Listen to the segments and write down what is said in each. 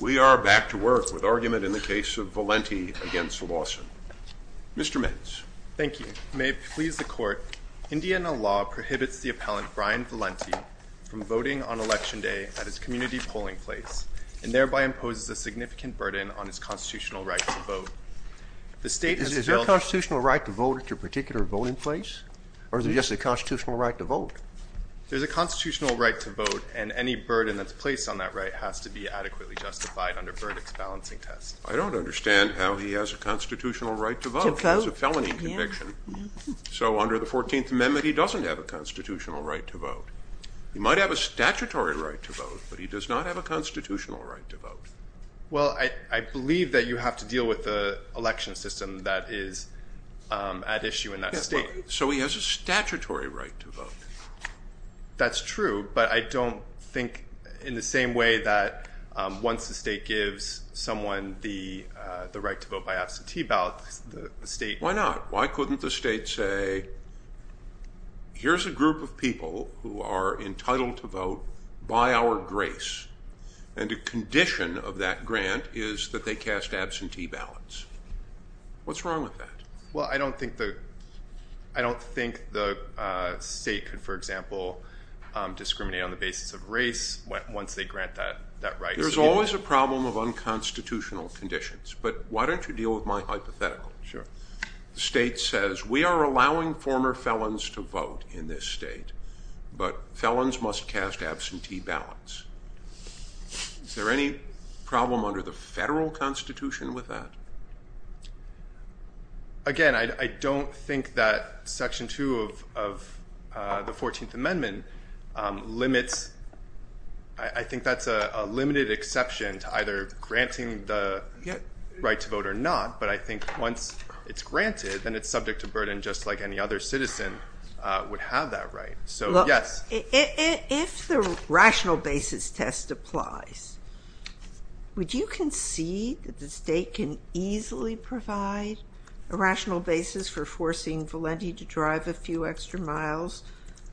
We are back to work with argument in the case of Valenti v. Lawson. Mr. Mitch. Thank you. May it please the Court, Indiana law prohibits the appellant Brian Valenti from voting on Election Day at his community polling place and thereby imposes a significant burden on his constitutional right to vote. Is there a constitutional right to vote at your particular voting place? Or is it just a constitutional right to vote? There's a constitutional right to vote, and any burden that's placed on that right has to be adequately justified under Verdicts Balancing Test. I don't understand how he has a constitutional right to vote. He has a felony conviction. So under the 14th Amendment, he doesn't have a constitutional right to vote. He might have a statutory right to vote, but he does not have a constitutional right to vote. Well, I believe that you have to deal with the election system that is at issue in that state. So he has a statutory right to vote. That's true, but I don't think in the same way that once the state gives someone the right to vote by absentee ballot, the state... Why not? Why couldn't the state say, here's a group of people who are entitled to vote by our grace, and a condition of that grant is that they cast absentee ballots. What's wrong with that? Well, I don't think the state could, for example, discriminate on the basis of race once they grant that right. There's always a problem of unconstitutional conditions, but why don't you deal with my hypothetical? Sure. The state says, we are allowing former felons to vote in this state, but felons must cast absentee ballots. Is there any problem under the federal constitution with that? Again, I don't think that Section 2 of the 14th Amendment limits... I think that's a limited exception to either granting the right to vote or not, but I think once it's granted, then it's subject to burden just like any other citizen would have that right. If the rational basis test applies, would you concede that the state can easily provide a rational basis for forcing Valenti to drive a few extra miles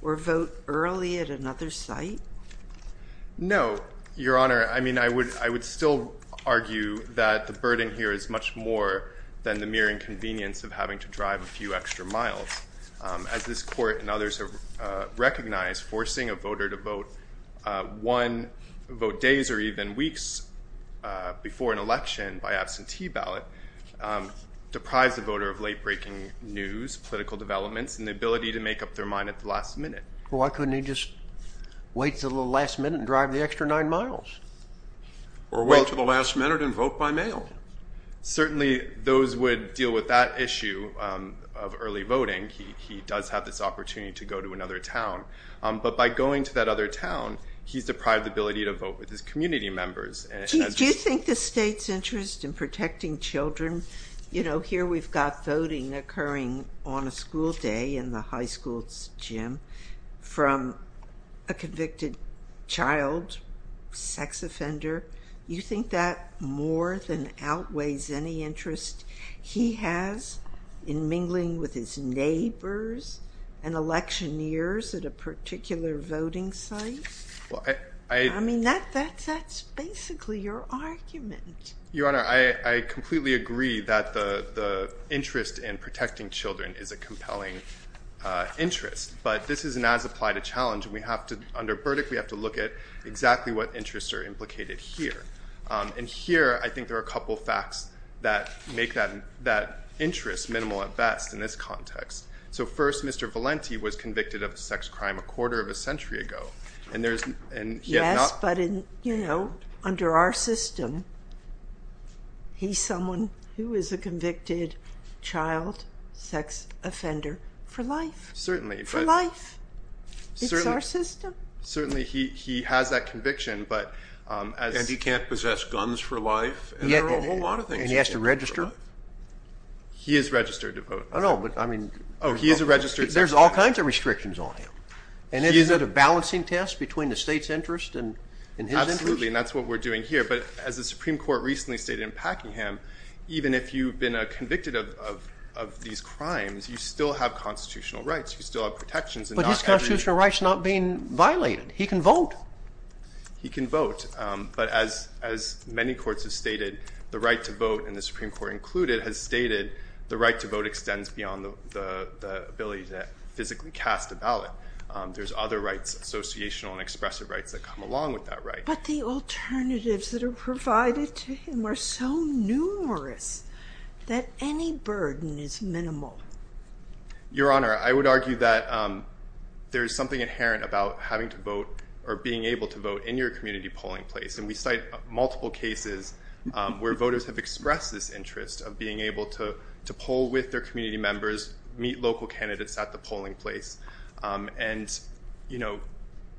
or vote early at another site? No, Your Honor. I mean, I would still argue that the burden here is much more than the mere inconvenience of having to drive a few extra miles. As this Court and others have recognized, forcing a voter to vote one vote days or even weeks before an election by absentee ballot deprives the voter of late-breaking news, political developments, and the ability to make up their mind at the last minute. Well, why couldn't he just wait until the last minute and drive the extra nine miles? Or wait until the last minute and vote by mail. Certainly, those would deal with that issue of early voting. He does have this opportunity to go to another town. But by going to that other town, he's deprived the ability to vote with his community members. Do you think the state's interest in protecting children... You know, here we've got voting occurring on a school day in the high school's gym from a convicted child sex offender. Do you think that more than outweighs any interest he has in mingling with his neighbors and electioneers at a particular voting site? Well, I... I mean, that's basically your argument. Your Honor, I completely agree that the interest in protecting children is a compelling interest. But this isn't as applied a challenge. Under Burdick, we have to look at exactly what interests are implicated here. And here, I think there are a couple of facts that make that interest minimal at best in this context. So first, Mr. Valenti was convicted of a sex crime a quarter of a century ago. Yes, but, you know, under our system, he's someone who is a convicted child sex offender for life. Certainly, but... For life. It's our system. Certainly, he has that conviction, but as... And he can't possess guns for life. And there are a whole lot of things he can't possess for life. And he has to register? He is registered to vote. Oh, no, but I mean... Oh, he is a registered sex offender. There's all kinds of restrictions on him. And is it a balancing test between the state's interest and his interest? Absolutely, and that's what we're doing here. But as the Supreme Court recently stated in Packingham, even if you've been convicted of these crimes, you still have constitutional rights. You still have protections. But his constitutional rights are not being violated. He can vote. He can vote. But as many courts have stated, the right to vote, and the Supreme Court included, has stated the right to vote extends beyond the ability to physically cast a ballot. There's other rights, associational and expressive rights, that come along with that right. But the alternatives that are provided to him are so numerous that any burden is minimal. Your Honor, I would argue that there is something inherent about having to vote or being able to vote in your community polling place. And we cite multiple cases where voters have expressed this interest of being able to poll with their community members, meet local candidates at the polling place. And, you know,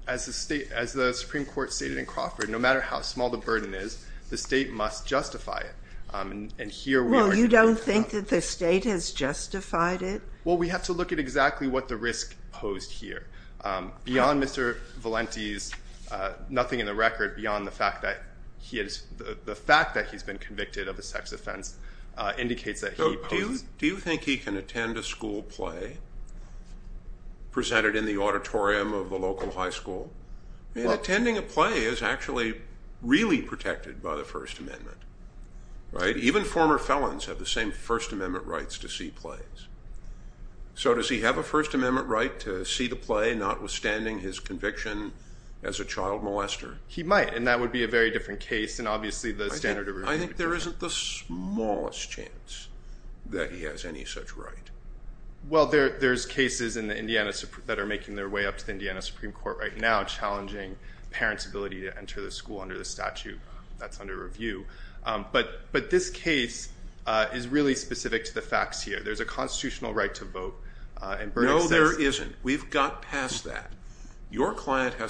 as the Supreme Court stated in Crawford, no matter how small the burden is, the state must justify it. And here we are. Well, you don't think that the state has justified it? Well, we have to look at exactly what the risk posed here. Beyond Mr. Valenti's, nothing in the record beyond the fact that he has, the fact that he's been convicted of a sex offense indicates that he posed. Do you think he can attend a school play presented in the auditorium of the local high school? And attending a play is actually really protected by the First Amendment, right? Even former felons have the same First Amendment rights to see plays. So does he have a First Amendment right to see the play, notwithstanding his conviction as a child molester? He might, and that would be a very different case. I think there isn't the smallest chance that he has any such right. Well, there's cases that are making their way up to the Indiana Supreme Court right now, challenging parents' ability to enter the school under the statute that's under review. But this case is really specific to the facts here. There's a constitutional right to vote. No, there isn't. We've got past that. Let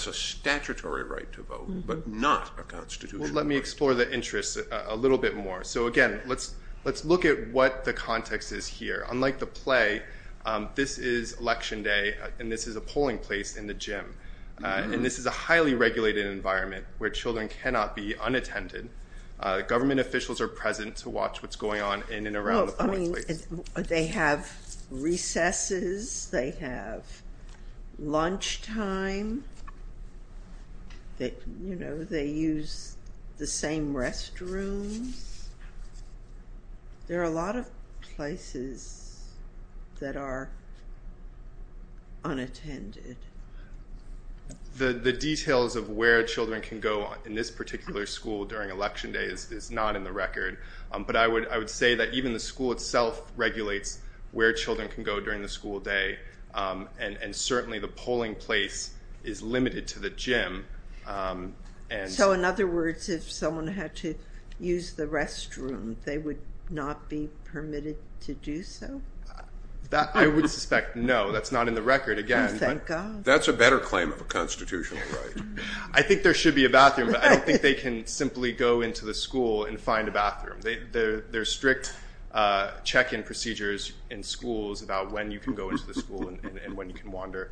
me explore the interest a little bit more. So again, let's look at what the context is here. Unlike the play, this is Election Day, and this is a polling place in the gym. And this is a highly regulated environment where children cannot be unattended. Government officials are present to watch what's going on in and around the polling place. They have recesses. They have lunchtime. They use the same restrooms. There are a lot of places that are unattended. The details of where children can go in this particular school during Election Day is not in the record. But I would say that even the school itself regulates where children can go during the school day. And certainly the polling place is limited to the gym. So in other words, if someone had to use the restroom, they would not be permitted to do so? I would suspect no. That's not in the record, again. Thank God. That's a better claim of a constitutional right. I think there should be a bathroom, but I don't think they can simply go into the school and find a bathroom. There are strict check-in procedures in schools about when you can go into the school and when you can wander.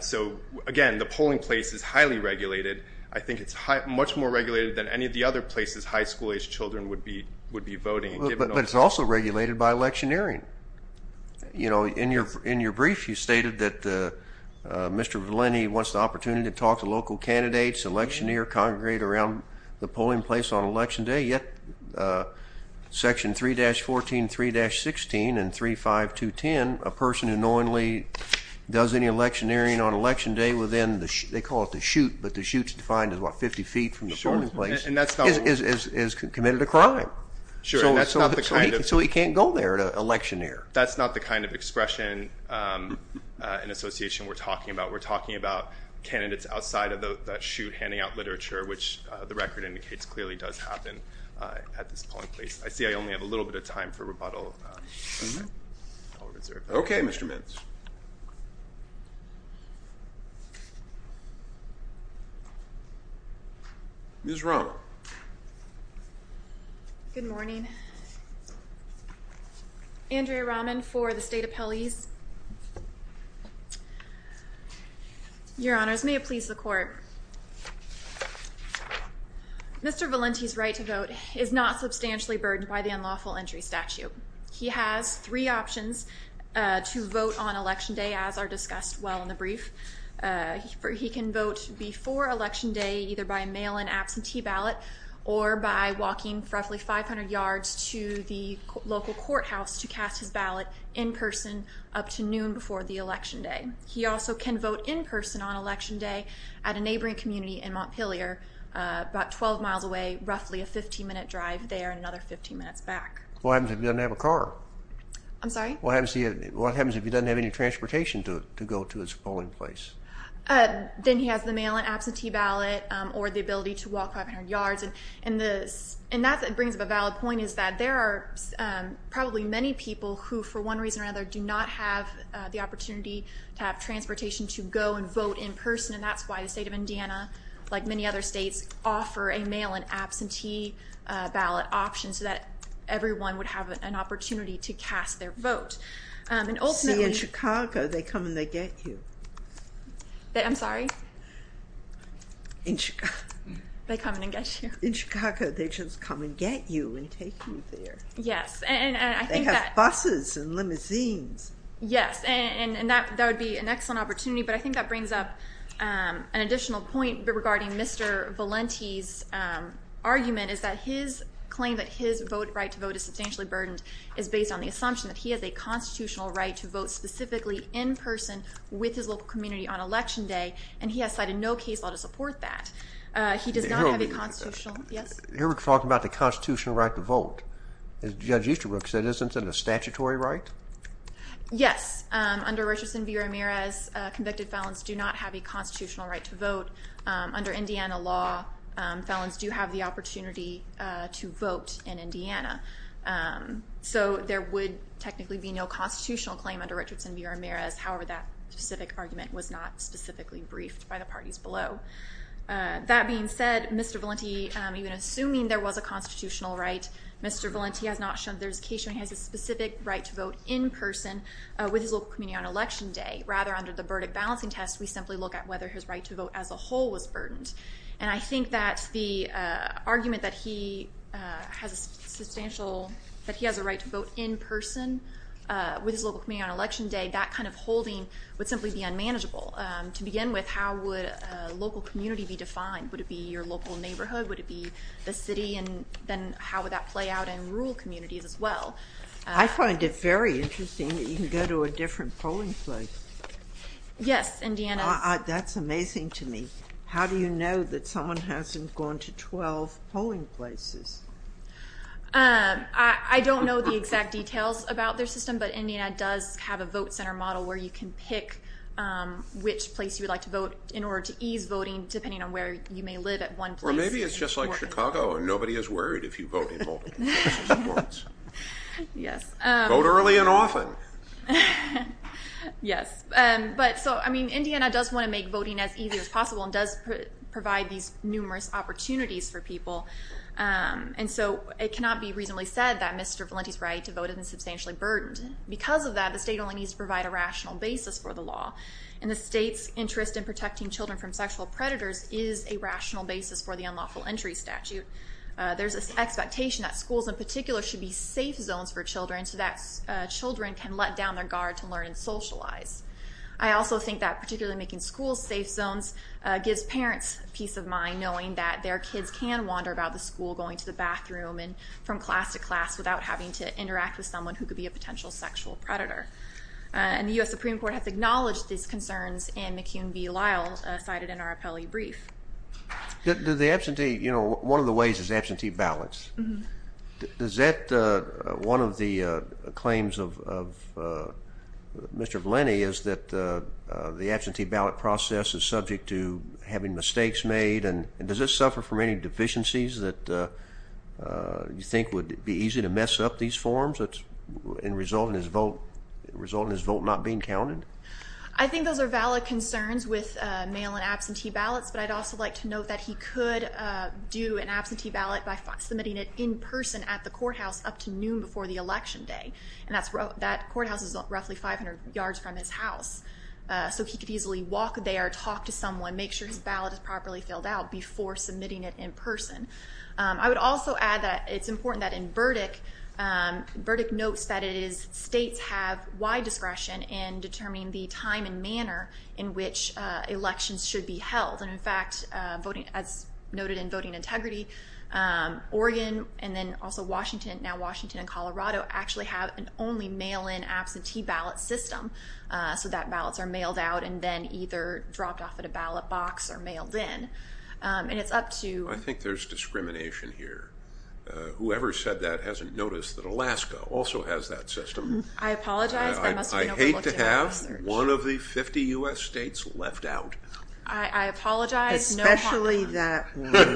So again, the polling place is highly regulated. I think it's much more regulated than any of the other places high school-aged children would be voting. But it's also regulated by electioneering. In your brief, you stated that Mr. Vellini wants the opportunity to talk to local candidates, electioneer, congregate around the polling place on Election Day. Yet, Section 3-14, 3-16, and 3-5-2-10, a person who knowingly does any electioneering on Election Day within, they call it the chute, but the chute is defined as about 50 feet from the polling place, is committed a crime. So he can't go there to electioneer? That's not the kind of expression and association we're talking about. We're talking about candidates outside of the chute handing out literature, which the record indicates clearly does happen at this polling place. I see I only have a little bit of time for rebuttal. Okay, Mr. Mintz. Ms. Rohn. Good morning. Andrea Rahman for the State Appellees. Your Honors, may it please the Court. Mr. Vellini's right to vote is not substantially burdened by the unlawful entry statute. He has three options to vote on Election Day, as are discussed well in the brief. He can vote before Election Day either by mail-in absentee ballot or by walking roughly 500 yards to the local courthouse to cast his ballot in person up to noon before the Election Day. He also can vote in person on Election Day at a neighboring community in Montpelier, about 12 miles away, roughly a 15-minute drive there and another 15 minutes back. What happens if he doesn't have a car? I'm sorry? What happens if he doesn't have any transportation to go to his polling place? Then he has the mail-in absentee ballot or the ability to walk 500 yards. And that brings up a valid point is that there are probably many people who, for one reason or another, do not have the opportunity to have transportation to go and vote in person. And that's why the state of Indiana, like many other states, offer a mail-in absentee ballot option so that everyone would have an opportunity to cast their vote. See, in Chicago, they come and they get you. I'm sorry? They come and they get you. In Chicago, they just come and get you and take you there. Yes. They have buses and limousines. Yes. And that would be an excellent opportunity. But I think that brings up an additional point regarding Mr. Valenti's argument is that his claim that his vote right to vote is substantially burdened is based on the assumption that he has a constitutional right to vote specifically in person with his local community on Election Day. And he has cited no case law to support that. He does not have a constitutional – yes? You're talking about the constitutional right to vote. As Judge Easterbrook said, isn't it a statutory right? Yes. Under Richardson v. Ramirez, convicted felons do not have a constitutional right to vote. Under Indiana law, felons do have the opportunity to vote in Indiana. So there would technically be no constitutional claim under Richardson v. Ramirez. However, that specific argument was not specifically briefed by the parties below. That being said, Mr. Valenti, even assuming there was a constitutional right, Mr. Valenti has not shown – with his local community on Election Day. Rather, under the verdict balancing test, we simply look at whether his right to vote as a whole was burdened. And I think that the argument that he has a substantial – that he has a right to vote in person with his local community on Election Day, that kind of holding would simply be unmanageable. To begin with, how would a local community be defined? Would it be your local neighborhood? Would it be the city? And then how would that play out in rural communities as well? I find it very interesting that you can go to a different polling place. Yes, Indiana – That's amazing to me. How do you know that someone hasn't gone to 12 polling places? I don't know the exact details about their system, but Indiana does have a vote center model where you can pick which place you would like to vote in order to ease voting, depending on where you may live at one place. Or maybe it's just like Chicago, and nobody is worried if you vote in Baltimore. Yes. Vote early and often. Yes. But so, I mean, Indiana does want to make voting as easy as possible and does provide these numerous opportunities for people. And so it cannot be reasonably said that Mr. Valenti's right to vote has been substantially burdened. Because of that, the state only needs to provide a rational basis for the law. And the state's interest in protecting children from sexual predators is a rational basis for the unlawful entry statute. There's an expectation that schools in particular should be safe zones for children so that children can let down their guard to learn and socialize. I also think that particularly making schools safe zones gives parents peace of mind knowing that their kids can wander about the school going to the bathroom and from class to class without having to interact with someone who could be a potential sexual predator. And the U.S. Supreme Court has acknowledged these concerns in McCune v. Lyle cited in our appellee brief. The absentee, you know, one of the ways is absentee ballots. Does that, one of the claims of Mr. Valenti is that the absentee ballot process is subject to having mistakes made? And does it suffer from any deficiencies that you think would be easy to mess up these forms in resulting in his vote not being counted? I think those are valid concerns with mail and absentee ballots. But I'd also like to note that he could do an absentee ballot by submitting it in person at the courthouse up to noon before the election day. And that courthouse is roughly 500 yards from his house. So he could easily walk there, talk to someone, make sure his ballot is properly filled out before submitting it in person. I would also add that it's important that in Burdick, Burdick notes that states have wide discretion in determining the time and manner in which elections should be held. And in fact, as noted in Voting Integrity, Oregon and then also Washington, now Washington and Colorado, actually have an only mail-in absentee ballot system. So that ballots are mailed out and then either dropped off at a ballot box or mailed in. I think there's discrimination here. Whoever said that hasn't noticed that Alaska also has that system. I apologize. I hate to have one of the 50 U.S. states left out. I apologize. Especially that one.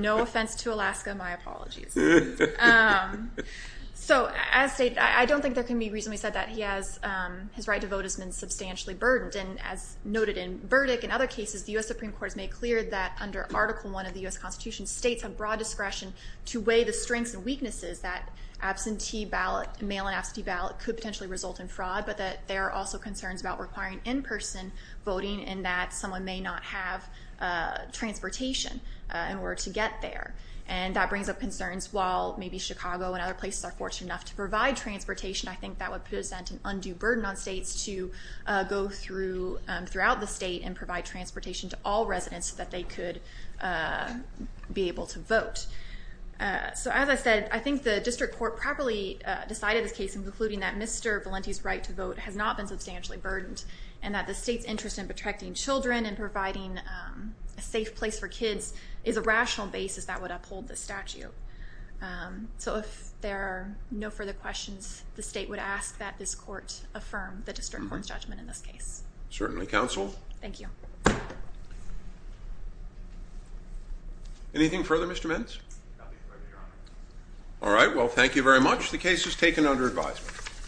No offense to Alaska. My apologies. So I don't think there can be a reason we said that. His right to vote has been substantially burdened. And as noted in Burdick and other cases, the U.S. Supreme Court has made clear that under Article I of the U.S. Constitution, states have broad discretion to weigh the strengths and weaknesses that mail-in absentee ballot could potentially result in fraud, but that there are also concerns about requiring in-person voting and that someone may not have transportation in order to get there. And that brings up concerns while maybe Chicago and other places are fortunate enough to provide transportation, I think that would present an undue burden on states to go throughout the state and provide transportation to all residents so that they could be able to vote. So as I said, I think the district court properly decided this case in concluding that Mr. Valenti's right to vote has not been substantially burdened and that the state's interest in protecting children and providing a safe place for kids is a rational basis that would uphold the statute. So if there are no further questions, the state would ask that this court affirm the district court's judgment in this case. Certainly, counsel. Thank you. Anything further, Mr. Mintz? All right. Well, thank you very much. The case is taken under advisement.